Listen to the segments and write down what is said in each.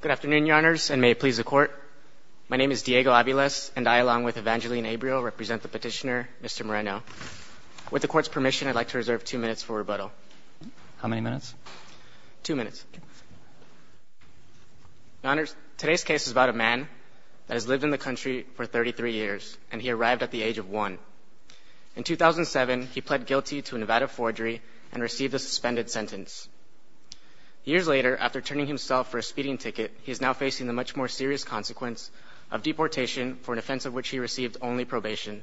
Good afternoon, Your Honors, and may it please the Court. My name is Diego Aviles, and I, along with Evangeline Abreu, represent the Petitioner, Mr. Moreno. With the Court's permission, I'd like to reserve two minutes for rebuttal. How many minutes? Two minutes. Your Honors, today's case is about a man that has lived in the country for 33 years, and he arrived at the age of one. In 2007, he pled guilty to a Nevada forgery and received a suspended sentence. Years later, after turning himself for a speeding ticket, he is now facing the much more serious consequence of deportation, for an offense of which he received only probation.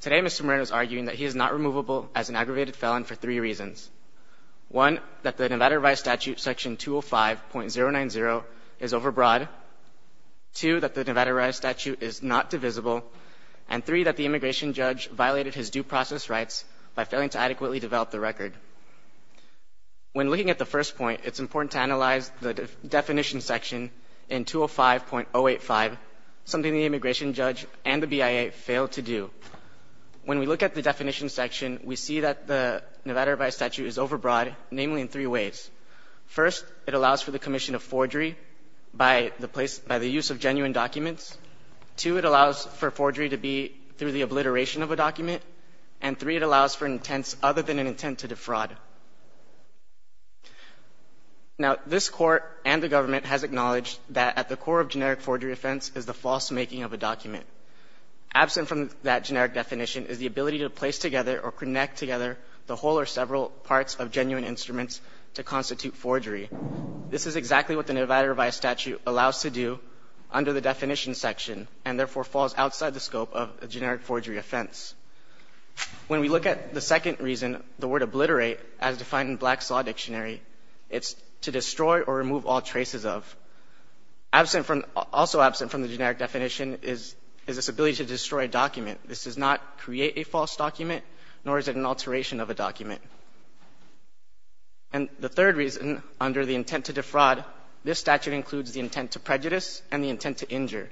Today, Mr. Moreno is arguing that he is not removable as an aggravated felon for three reasons. One, that the Nevada Right Statute, Section 205.090, is overbroad. Two, that the Nevada Right Statute is not divisible. And three, that the immigration judge violated his due process rights by failing to adequately develop the record. When looking at the first point, it's important to analyze the definition section in 205.085, something the immigration judge and the BIA failed to do. When we look at the definition section, we see that the Nevada Right Statute is overbroad, namely in three ways. First, it allows for the commission of forgery by the use of genuine documents. Two, it allows for forgery to be through the obliteration of a document. And three, it allows for an intent other than an intent to defraud. Now, this court and the government has acknowledged that at the core of generic forgery offense is the false making of a document. Absent from that generic definition is the ability to place together or connect together the whole or several parts of genuine instruments to constitute forgery. This is exactly what the Nevada Right Statute allows to do under the definition section, and therefore falls outside the scope of a generic forgery offense. When we look at the second reason, the word obliterate, as defined in Black's Law Dictionary, it's to destroy or remove all traces of. Also absent from the generic definition is this ability to destroy a document. This does not create a false document, nor is it an alteration of a document. And the third reason, under the intent to defraud, this statute includes the intent to prejudice and the intent to injure.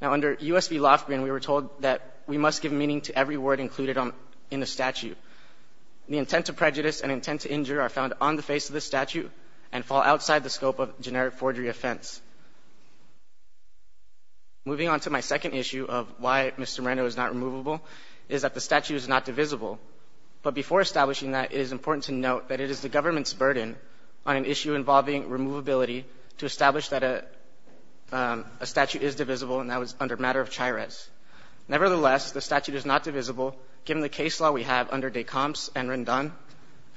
Now, under U.S. v. Lofgren, we were told that we must give meaning to every word included in the statute. The intent to prejudice and intent to injure are found on the face of the statute and fall outside the scope of generic forgery offense. Moving on to my second issue of why Mr. Moreno is not removable is that the statute is not divisible. But before establishing that, it is important to note that it is the government's burden on an issue involving removability to establish that a statute is divisible, and that was under matter of chairez. Nevertheless, the statute is not divisible, given the case law we have under de Comptes and Rendon,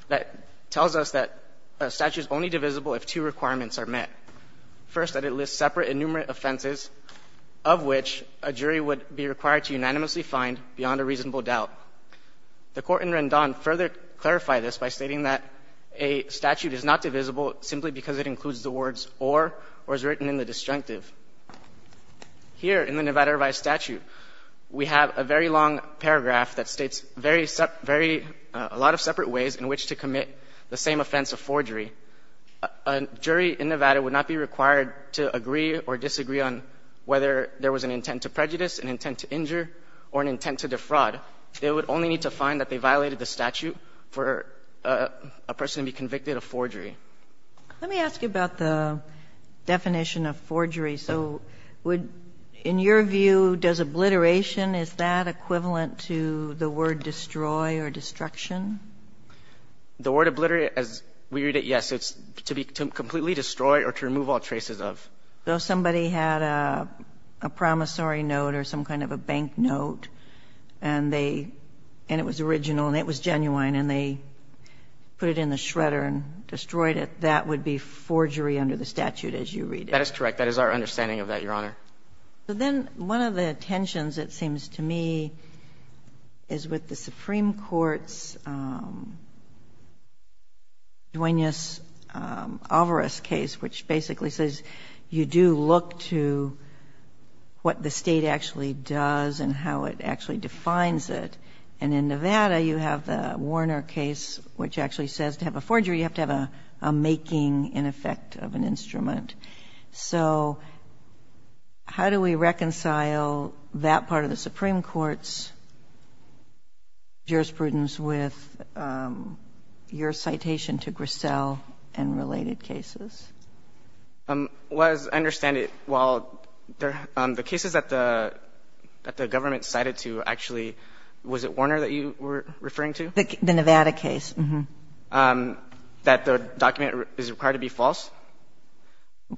that tells us that a statute is only divisible if two requirements are met. First, that it lists separate and numerate offenses, of which a jury would be required to unanimously find beyond a reasonable doubt. The Court in Rendon further clarified this by stating that a statute is not divisible simply because it includes the words or, or is written in the disjunctive. Here in the Nevada Revised Statute, we have a very long paragraph that states a lot of separate ways in which to commit the same offense of forgery. A jury in Nevada would not be required to agree or disagree on whether there was an intent to prejudice, an intent to injure, or an intent to defraud. They would only need to find that they violated the statute for a person to be convicted of forgery. Let me ask you about the definition of forgery. So would, in your view, does obliteration, is that equivalent to the word destroy or destruction? The word obliterate, as we read it, yes. It's to be completely destroyed or to remove all traces of. So somebody had a promissory note or some kind of a bank note, and they, and it was original, and it was genuine, and they put it in the shredder and destroyed it. That would be forgery under the statute, as you read it. That is correct. That is our understanding of that, Your Honor. So then one of the tensions, it seems to me, is with the Supreme Court's Duenas-Alvarez case, which basically says you do look to what the state actually does and how it actually defines it. And in Nevada, you have the Warner case, which actually says to have a forgery, you have to have a making, in effect, of an instrument. So how do we reconcile that part of the Supreme Court's jurisprudence with your citation to Grissel and related cases? Well, as I understand it, while the cases that the government cited to actually, was it Warner that you were referring to? The Nevada case. Yes. That the document is required to be false?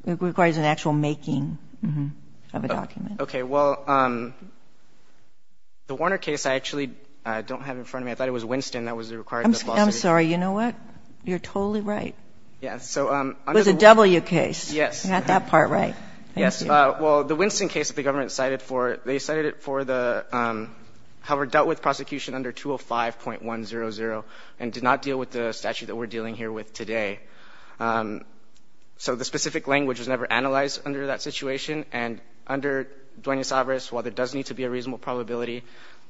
It requires an actual making of a document. Okay. Well, the Warner case I actually don't have in front of me. I thought it was Winston that was required to be false. I'm sorry. You know what? You're totally right. Yes. It was a W case. Yes. Not that part right. Yes. Well, the Winston case that the government cited for, they cited it for the, however, dealt with prosecution under 205.100 and did not deal with the statute that we're dealing here with today. So the specific language was never analyzed under that situation. And under Duenas-Alvarez, while there does need to be a reasonable probability,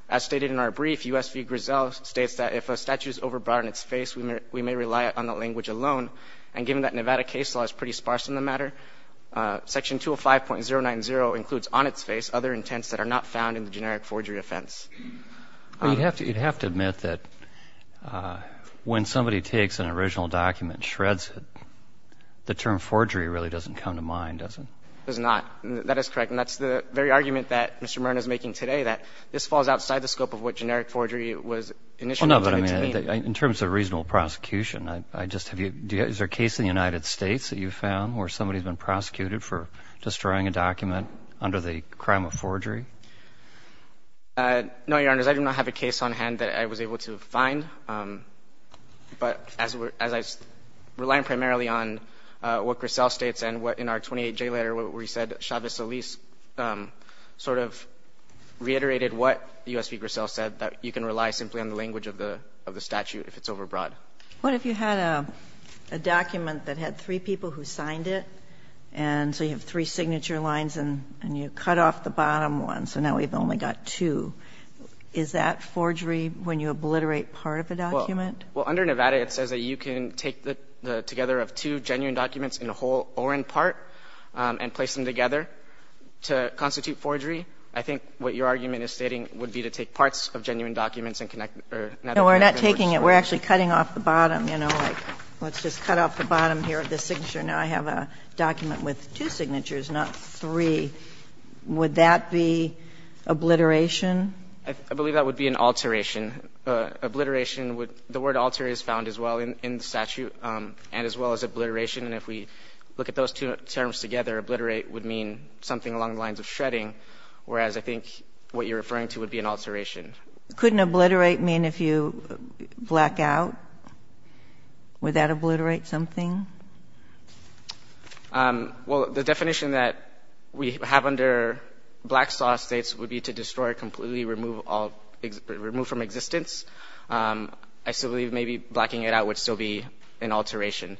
as stated in our brief, U.S. v. Grissel states that if a statute is overbought in its face, we may rely on the language alone. And given that Nevada case law is pretty sparse in the matter, Section 205.090 includes on its face other intents that are not found in the generic forgery offense. Well, you'd have to admit that when somebody takes an original document and shreds it, the term forgery really doesn't come to mind, does it? It does not. That is correct. And that's the very argument that Mr. Murna is making today, that this falls outside the scope of what generic forgery was initially intended to mean. Well, no, but, I mean, in terms of reasonable prosecution, I just have you, is there a case in the United States that you've found where somebody's been prosecuted for destroying a document under the crime of forgery? No, Your Honors. I do not have a case on hand that I was able to find. But as I was relying primarily on what Grissel states and what in our 28-J letter where he said Chavez-Eliz sort of reiterated what U.S. v. Grissel said, that you can rely simply on the language of the statute if it's overbought. What if you had a document that had three people who signed it, and so you have three signature lines and you cut off the bottom one, so now we've only got two? Is that forgery when you obliterate part of a document? Well, under Nevada it says that you can take together of two genuine documents in a whole or in part and place them together to constitute forgery. I think what your argument is stating would be to take parts of genuine documents and connect them. No, we're not taking it. We're actually cutting off the bottom, you know, like let's just cut off the bottom here of the signature. Now I have a document with two signatures, not three. Would that be obliteration? I believe that would be an alteration. Obliteration would be the word alter is found as well in the statute and as well as obliteration. And if we look at those two terms together, obliterate would mean something along the lines of shredding, whereas I think what you're referring to would be an alteration. Couldn't obliterate mean if you black out? Would that obliterate something? Well, the definition that we have under Black Saw States would be to destroy, completely remove from existence. I still believe maybe blacking it out would still be an alteration.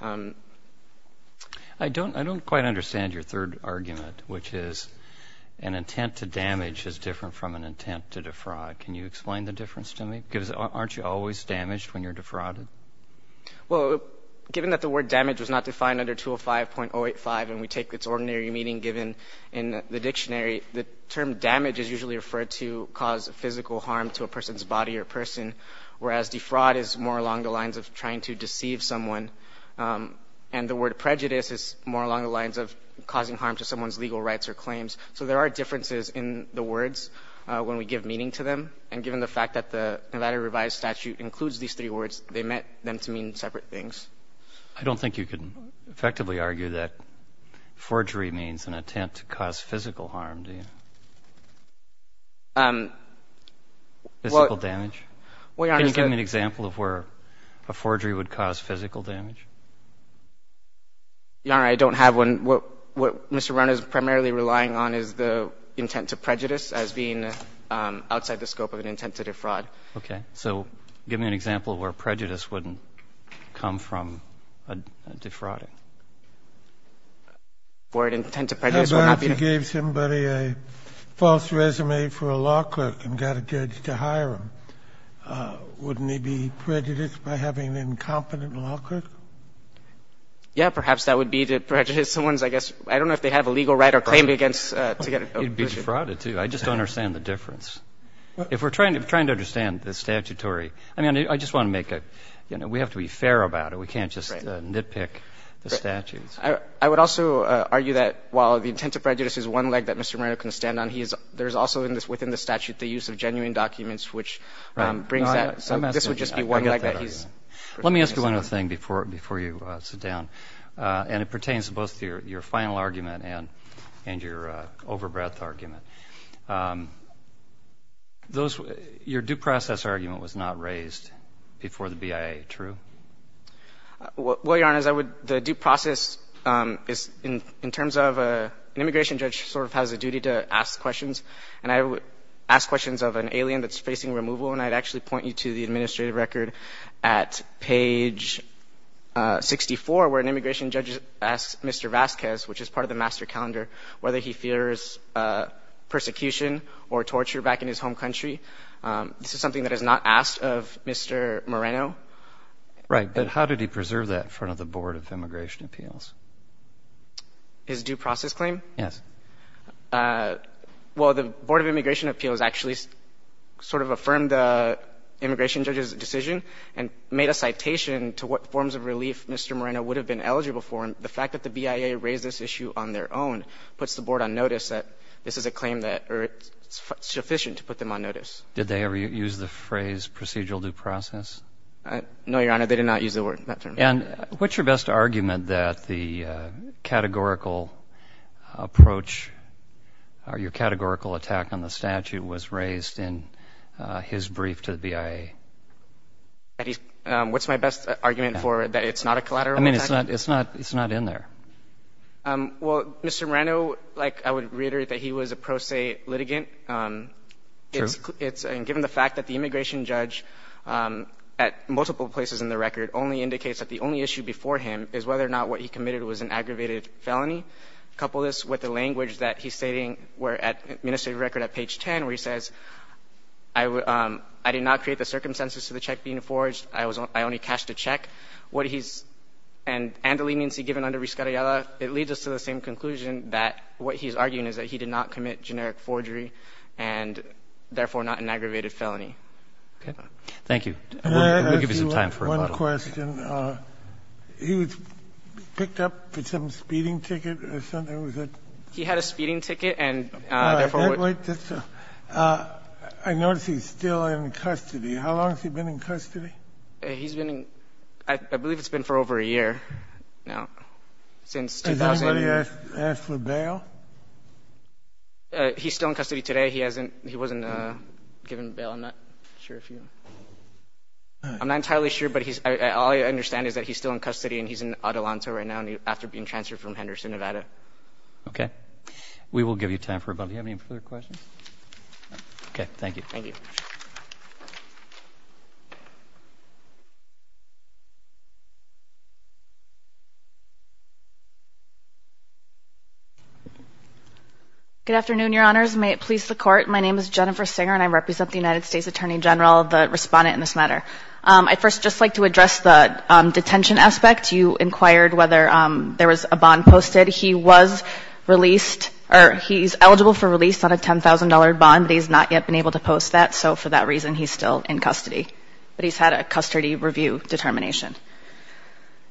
I don't quite understand your third argument, which is an intent to damage is more of an intent to defraud. Can you explain the difference to me? Aren't you always damaged when you're defrauded? Well, given that the word damage was not defined under 205.085 and we take its ordinary meaning given in the dictionary, the term damage is usually referred to cause physical harm to a person's body or person, whereas defraud is more along the lines of trying to deceive someone. And the word prejudice is more along the lines of causing harm to someone's legal rights or claims. So there are differences in the words when we give meaning to them. And given the fact that the Nevada Revised Statute includes these three words, they meant them to mean separate things. I don't think you can effectively argue that forgery means an intent to cause physical harm, do you? Physical damage? Can you give me an example of where a forgery would cause physical damage? Your Honor, I don't have one. What Mr. Rohn is primarily relying on is the intent to prejudice as being outside the scope of an intent to defraud. Okay. So give me an example of where prejudice wouldn't come from defrauding. The word intent to prejudice would not be an intent to defraud. How about if you gave somebody a false resume for a law clerk and got a judge to hire him? Wouldn't he be prejudiced by having an incompetent law clerk? Yeah, perhaps that would be to prejudice someone's, I guess, I don't know if they have a legal right or claim against to get a position. He'd be defrauded, too. I just don't understand the difference. If we're trying to understand the statutory, I mean, I just want to make a, you know, we have to be fair about it. We can't just nitpick the statutes. I would also argue that while the intent to prejudice is one leg that Mr. Moreno can stand on, there's also within the statute the use of genuine documents, which brings that. So this would just be one leg that he's. Let me ask you one other thing before you sit down. And it pertains to both your final argument and your overbreadth argument. Your due process argument was not raised before the BIA. True? Well, Your Honor, the due process is in terms of an immigration judge sort of has a duty to ask questions. And I would ask questions of an alien that's facing removal, and I'd actually point you to the administrative record at page 64 where an immigration judge asks Mr. Vasquez, which is part of the master calendar, whether he fears persecution or torture back in his home country. This is something that is not asked of Mr. Moreno. Right. But how did he preserve that in front of the Board of Immigration Appeals? His due process claim? Yes. Well, the Board of Immigration Appeals actually sort of affirmed the immigration judge's decision and made a citation to what forms of relief Mr. Moreno would have been eligible for. And the fact that the BIA raised this issue on their own puts the Board on notice that this is a claim that is sufficient to put them on notice. Did they ever use the phrase procedural due process? No, Your Honor. They did not use the word, that term. And what's your best argument that the categorical approach or your categorical attack on the statute was raised in his brief to the BIA? What's my best argument for that it's not a collateral attack? I mean, it's not in there. Well, Mr. Moreno, like I would reiterate that he was a pro se litigant. True. And given the fact that the immigration judge at multiple places in the record only indicates that the only issue before him is whether or not what he committed was an aggravated felony, couple this with the language that he's stating where at the administrative record at page 10 where he says, I did not create the circumstances to the check being forged. I only cashed a check. What he's and the leniency given under rescariola, it leads us to the same conclusion that what he's arguing is that he did not commit generic forgery and, therefore, not an aggravated felony. Okay. Thank you. We'll give you some time for a couple of questions. One question. He was picked up with some speeding ticket or something, was it? He had a speeding ticket and, therefore, would I notice he's still in custody. How long has he been in custody? He's been in, I believe it's been for over a year now, since 2008. Has anybody asked for bail? He's still in custody today. He hasn't, he wasn't given bail. I'm not entirely sure, but all I understand is that he's still in custody and he's in Atalanta right now after being transferred from Henderson, Nevada. Okay. We will give you time for about, do you have any further questions? Okay. Thank you. Thank you. Good afternoon, Your Honors. May it please the Court. My name is Jennifer Singer and I represent the United States Attorney General, the Respondent in this matter. I'd first just like to address the detention aspect. You inquired whether there was a bond posted. He was released, or he's eligible for release on a $10,000 bond, but he's not yet been able to post that, so for that reason he's still in custody. But he's had a custody review determination.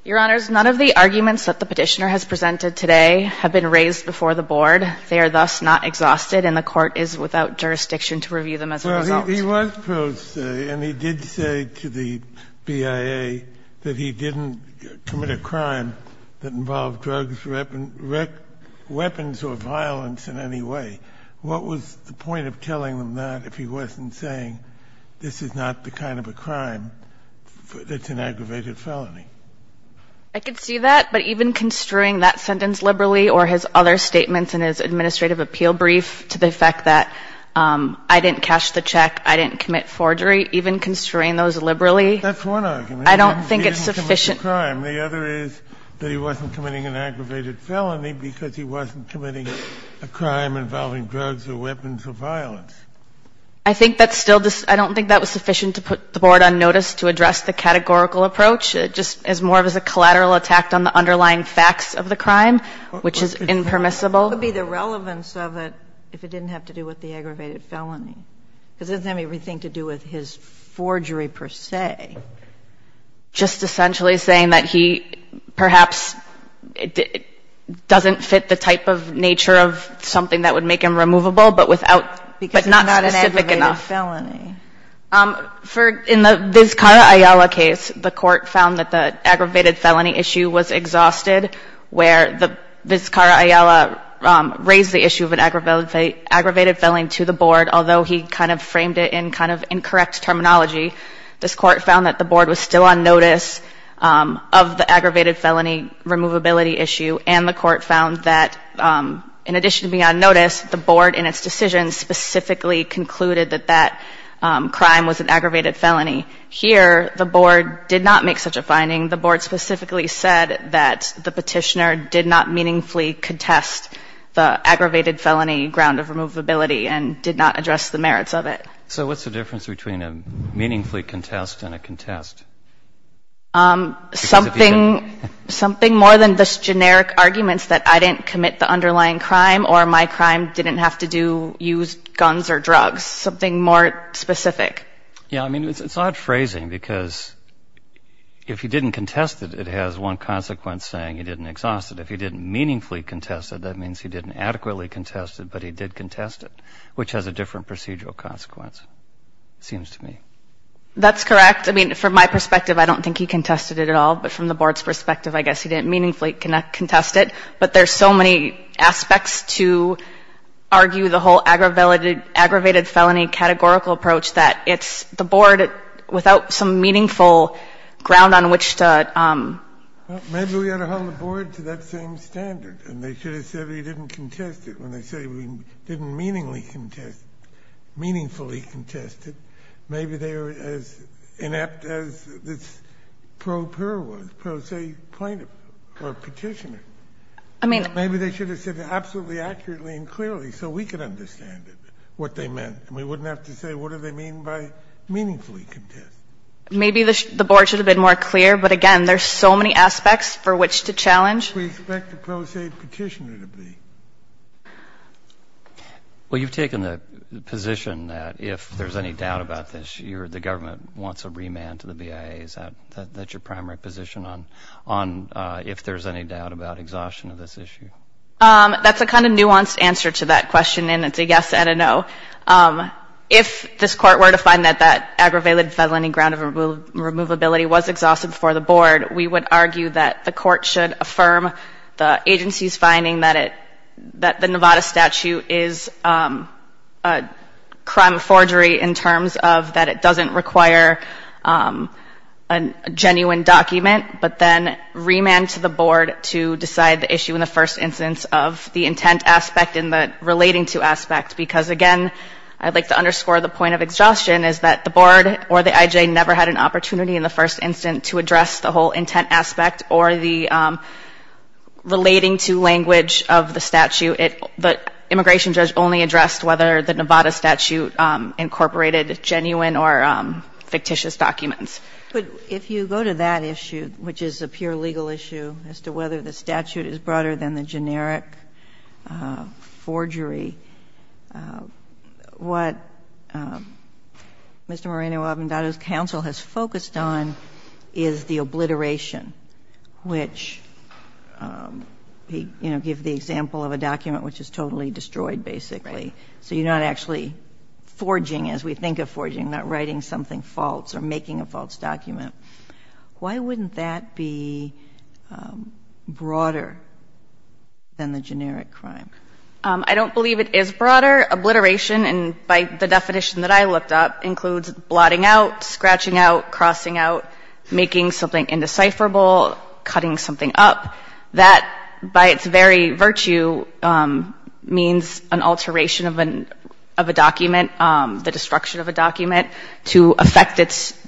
Your Honors, none of the arguments that the Petitioner has presented today have been raised before the Board. They are thus not exhausted and the Court is without jurisdiction to review them as a result. So he was posted and he did say to the BIA that he didn't commit a crime that involved drugs, weapons, or violence in any way. What was the point of telling them that if he wasn't saying this is not the kind of a crime that's an aggravated felony? I could see that, but even construing that sentence liberally or his other statements in his administrative appeal brief to the fact that I didn't cash the check, I didn't commit forgery, even construing those liberally. That's one argument. I don't think it's sufficient. He didn't commit a crime. The other is that he wasn't committing an aggravated felony because he wasn't committing a crime involving drugs or weapons or violence. I don't think that was sufficient to put the Board on notice to address the categorical approach. It just is more of a collateral attack on the underlying facts of the crime, which is impermissible. What would be the relevance of it if it didn't have to do with the aggravated felony? Because it doesn't have anything to do with his forgery per se. Just essentially saying that he perhaps doesn't fit the type of nature of something that would make him removable, but not specific enough. Because it's not an aggravated felony. In the Vizcara-Ayala case, the Court found that the aggravated felony issue was exhausted, where the Vizcara-Ayala raised the issue of an aggravated felony to the Board, although he kind of framed it in kind of incorrect terminology. This Court found that the Board was still on notice of the aggravated felony removability issue, and the Court found that in addition to being on notice, the Board in its decision specifically concluded that that crime was an aggravated felony. Here, the Board did not make such a finding. The Board specifically said that the Petitioner did not meaningfully contest the aggravated felony ground of removability and did not address the merits of it. So what's the difference between a meaningfully contest and a contest? Something more than just generic arguments that I didn't commit the underlying crime or my crime didn't have to use guns or drugs. Something more specific. Yeah, I mean, it's odd phrasing because if he didn't contest it, it has one consequence saying he didn't exhaust it. If he didn't meaningfully contest it, that means he didn't adequately contest it, but he did contest it, which has a different procedural consequence, it seems to me. That's correct. I mean, from my perspective, I don't think he contested it at all. But from the Board's perspective, I guess he didn't meaningfully contest it. But there's so many aspects to argue the whole aggravated felony categorical approach that it's the Board, without some meaningful ground on which to ---- Maybe we ought to hold the Board to that same standard. And they should have said he didn't contest it when they say we didn't meaningfully contest it, meaningfully contest it. Maybe they were as inept as this pro per was, pro se plaintiff or petitioner. I mean ---- Maybe they should have said it absolutely accurately and clearly so we could understand it, what they meant. And we wouldn't have to say what do they mean by meaningfully contest. Maybe the Board should have been more clear, but again, there's so many aspects for which to challenge. We expect the pro se petitioner to be. Well, you've taken the position that if there's any doubt about this, the government wants a remand to the BIA. Is that your primary position on if there's any doubt about exhaustion of this issue? That's a kind of nuanced answer to that question, and it's a yes and a no. If this Court were to find that that aggravated felony ground of removability was exhausted before the Board, we would argue that the Court should affirm the agency's finding that the Nevada statute is a crime of forgery in terms of that it doesn't require a genuine document, but then remand to the Board to decide the issue in the first instance of the intent aspect and the relating to aspect, because, again, I'd like to underscore the point of exhaustion is that the Board or the IJ never had an opportunity in the first instance to address the whole intent aspect or the relating to language of the statute. The immigration judge only addressed whether the Nevada statute incorporated genuine or fictitious documents. But if you go to that issue, which is a pure legal issue as to whether the statute is broader than the generic forgery, what Mr. Moreno-Avendado's counsel has focused on is the obliteration, which, you know, give the example of a document which is totally destroyed, basically. So you're not actually forging, as we think of forging, not writing something false or making a false document. Why wouldn't that be broader than the generic crime? I don't believe it is broader. Obliteration, by the definition that I looked up, includes blotting out, scratching out, crossing out, making something indecipherable, cutting something up. That, by its very virtue, means an alteration of a document, the destruction of a document, to affect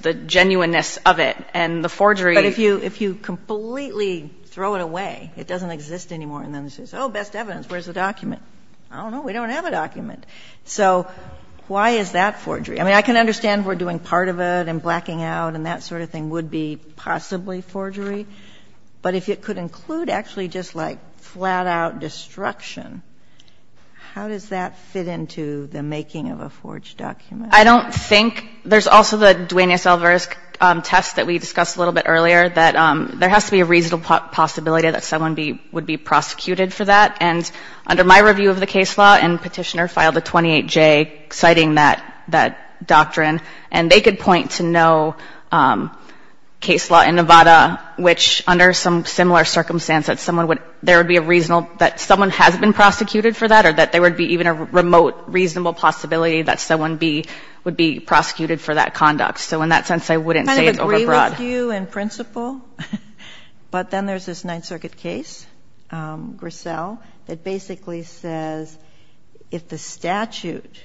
the genuineness of it. And the forgery ---- But if you completely throw it away, it doesn't exist anymore, and then it says, oh, best evidence, where's the document? I don't know. We don't have a document. So why is that forgery? I mean, I can understand we're doing part of it and blacking out and that sort of thing would be possibly forgery. But if it could include actually just like flat-out destruction, how does that fit into the making of a forged document? I don't think. There's also the Duenas-Elvarez test that we discussed a little bit earlier, that there has to be a reasonable possibility that someone would be prosecuted for that. And under my review of the case law and petitioner filed a 28-J citing that doctrine, and they could point to no case law in Nevada, which under some similar circumstance that someone would ---- there would be a reasonable ---- that someone has been prosecuted for that or that there would be even a remote reasonable possibility that someone would be prosecuted for that conduct. So in that sense, I wouldn't say it's overbroad. I kind of agree with you in principle. But then there's this Ninth Circuit case, Grissel, that basically says if the statute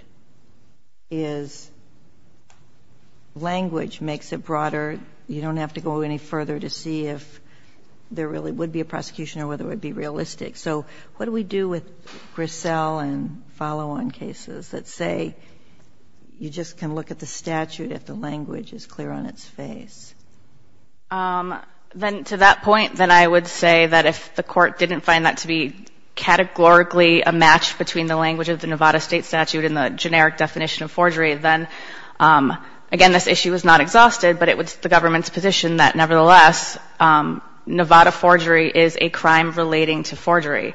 is language makes it broader, you don't have to go any further to see if there really would be a prosecution or whether it would be realistic. So what do we do with Grissel and follow-on cases that say you just can look at the statute if the language is clear on its face? Then to that point, then I would say that if the court didn't find that to be categorically a match between the language of the Nevada state statute and the generic definition of forgery, then, again, this issue is not exhausted, but it was the government's position that, nevertheless, Nevada forgery is a crime relating to forgery.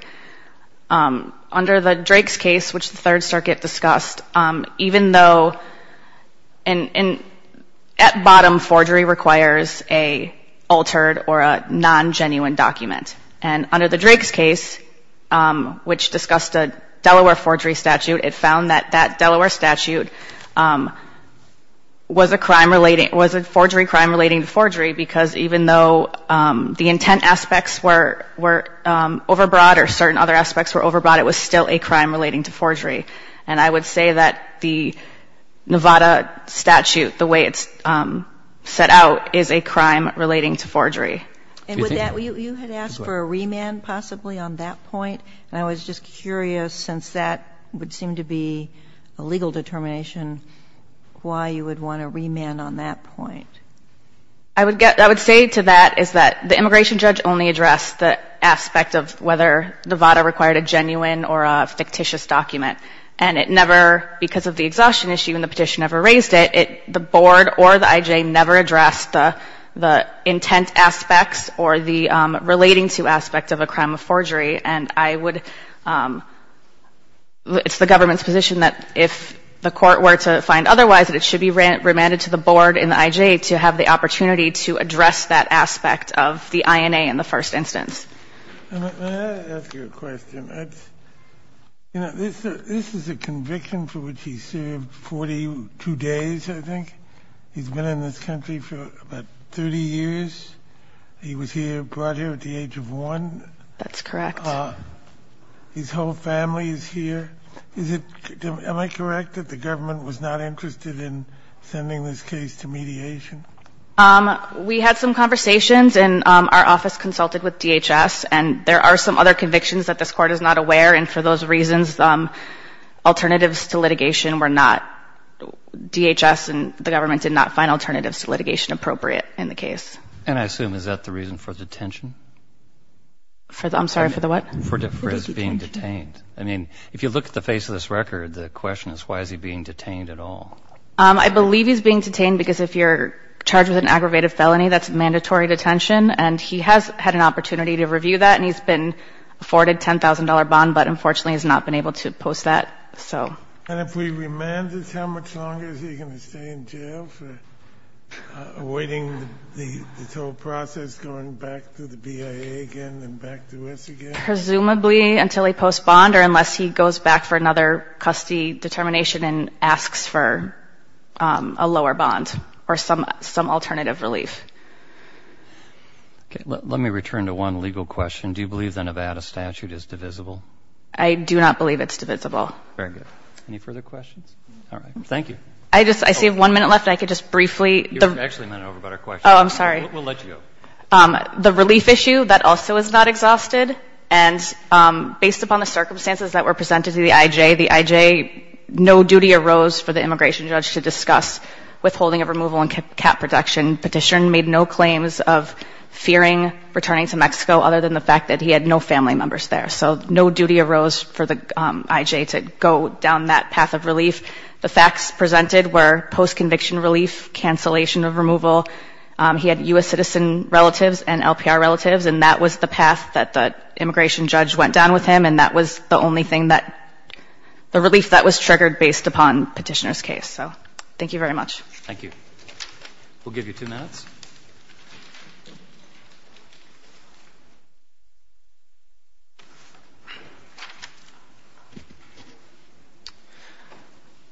Under the Drake's case, which the Third Circuit discussed, even though at bottom forgery requires a altered or a non-genuine document. And under the Drake's case, which discussed a Delaware forgery statute, it found that that Delaware statute was a crime relating, was a forgery crime relating to forgery because even though the intent aspects were overbroad or certain other aspects were overbroad, it was still a crime relating to forgery. And I would say that the Nevada statute, the way it's set out, is a crime relating to forgery. And with that, you had asked for a remand possibly on that point? And I was just curious, since that would seem to be a legal determination, why you would want a remand on that point? I would say to that is that the immigration judge only addressed the aspect of whether Nevada required a genuine or a fictitious document. And it never, because of the exhaustion issue and the petition never raised it, the board or the I.J. never addressed the intent aspects or the relating-to aspects of a crime of forgery. And I would, it's the government's position that if the court were to find otherwise, that it should be remanded to the board and the I.J. to have the opportunity to address that aspect of the INA in the first instance. Let me ask you a question. You know, this is a conviction for which he served 42 days, I think. He's been in this country for about 30 years. He was here, brought here at the age of 1. That's correct. His whole family is here. Is it, am I correct that the government was not interested in sending this case to mediation? We had some conversations, and our office consulted with DHS, and there are some other convictions that this court is not aware, and for those reasons, alternatives to litigation were not, DHS and the government did not find alternatives to litigation appropriate in the case. And I assume is that the reason for detention? I'm sorry, for the what? For his being detained. I mean, if you look at the face of this record, the question is why is he being detained at all? I believe he's being detained because if you're charged with an aggravated felony, that's mandatory detention, and he has had an opportunity to review that, and he's been afforded a $10,000 bond, but unfortunately has not been able to post that, so. And if we remanded, how much longer is he going to stay in jail for avoiding the total process going back to the BIA again and back to us again? Presumably until he posts bond or unless he goes back for another custody determination and asks for a lower bond or some alternative relief. Okay. Let me return to one legal question. Do you believe the Nevada statute is divisible? I do not believe it's divisible. Very good. Any further questions? All right. Thank you. I just, I see one minute left. I could just briefly. You're actually a minute over about our question. Oh, I'm sorry. We'll let you go. The relief issue, that also is not exhausted, and based upon the circumstances that were presented to the IJ, the IJ, no duty arose for the immigration judge to discuss withholding of removal and cap protection. Petition made no claims of fearing returning to Mexico, other than the fact that he had no family members there. So no duty arose for the IJ to go down that path of relief. The facts presented were post-conviction relief, cancellation of removal. He had U.S. citizen relatives and LPR relatives, and that was the path that the immigration judge went down with him, and that was the only thing that, the relief that was triggered based upon petitioner's case. So thank you very much. Thank you. We'll give you two minutes.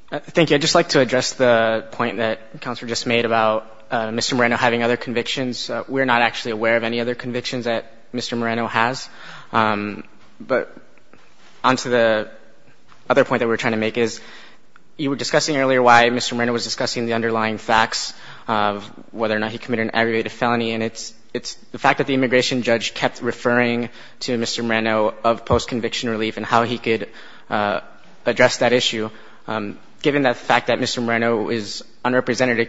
Thank you. I'd just like to address the point that the counselor just made about Mr. Moreno having other convictions. We're not actually aware of any other convictions that Mr. Moreno has. But onto the other point that we're trying to make is, you were discussing earlier why Mr. Moreno was discussing the underlying facts of whether or not he committed an aggravated felony, and it's the fact that the immigration judge kept referring to Mr. Moreno of post-conviction relief and how he could address that issue. Given the fact that Mr. Moreno is unrepresented,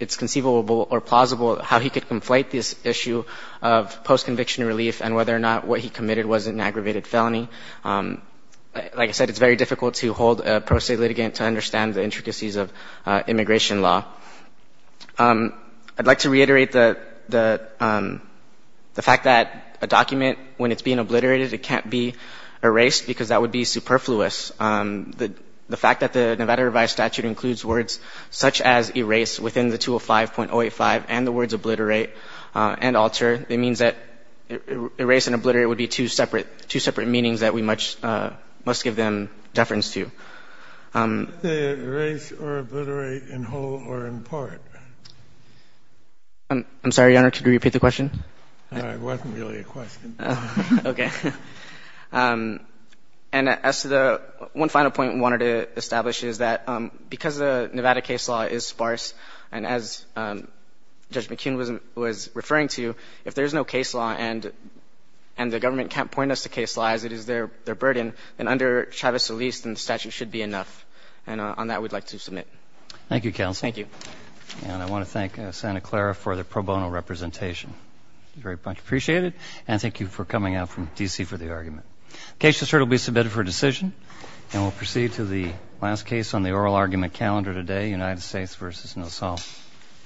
it's conceivable or plausible how he could conflate this issue of post-conviction relief and whether or not what he committed was an aggravated felony. Like I said, it's very difficult to hold a pro se litigant to understand the intricacies of immigration law. I'd like to reiterate the fact that a document, when it's being obliterated, it can't be erased because that would be superfluous. The fact that the Nevada Revised Statute includes words such as erase within the 205.085 and the words obliterate and alter, it means that erase and obliterate would be two separate, two separate meanings that we must give them deference to. They erase or obliterate in whole or in part. I'm sorry, Your Honor. Could you repeat the question? It wasn't really a question. Okay. And as to the one final point I wanted to establish is that because the Nevada case law is sparse, and as Judge McKeon was referring to, if there's no case law and the government can't point us to case law as it is their burden, then under Chavez-Elise, then the statute should be enough. And on that, we'd like to submit. Thank you, Counsel. Thank you. And I want to thank Santa Clara for the pro bono representation. It's very much appreciated. And thank you for coming out from D.C. for the argument. The case will be submitted for decision, and we'll proceed to the last case on the oral argument calendar today. The United States v. Nassau.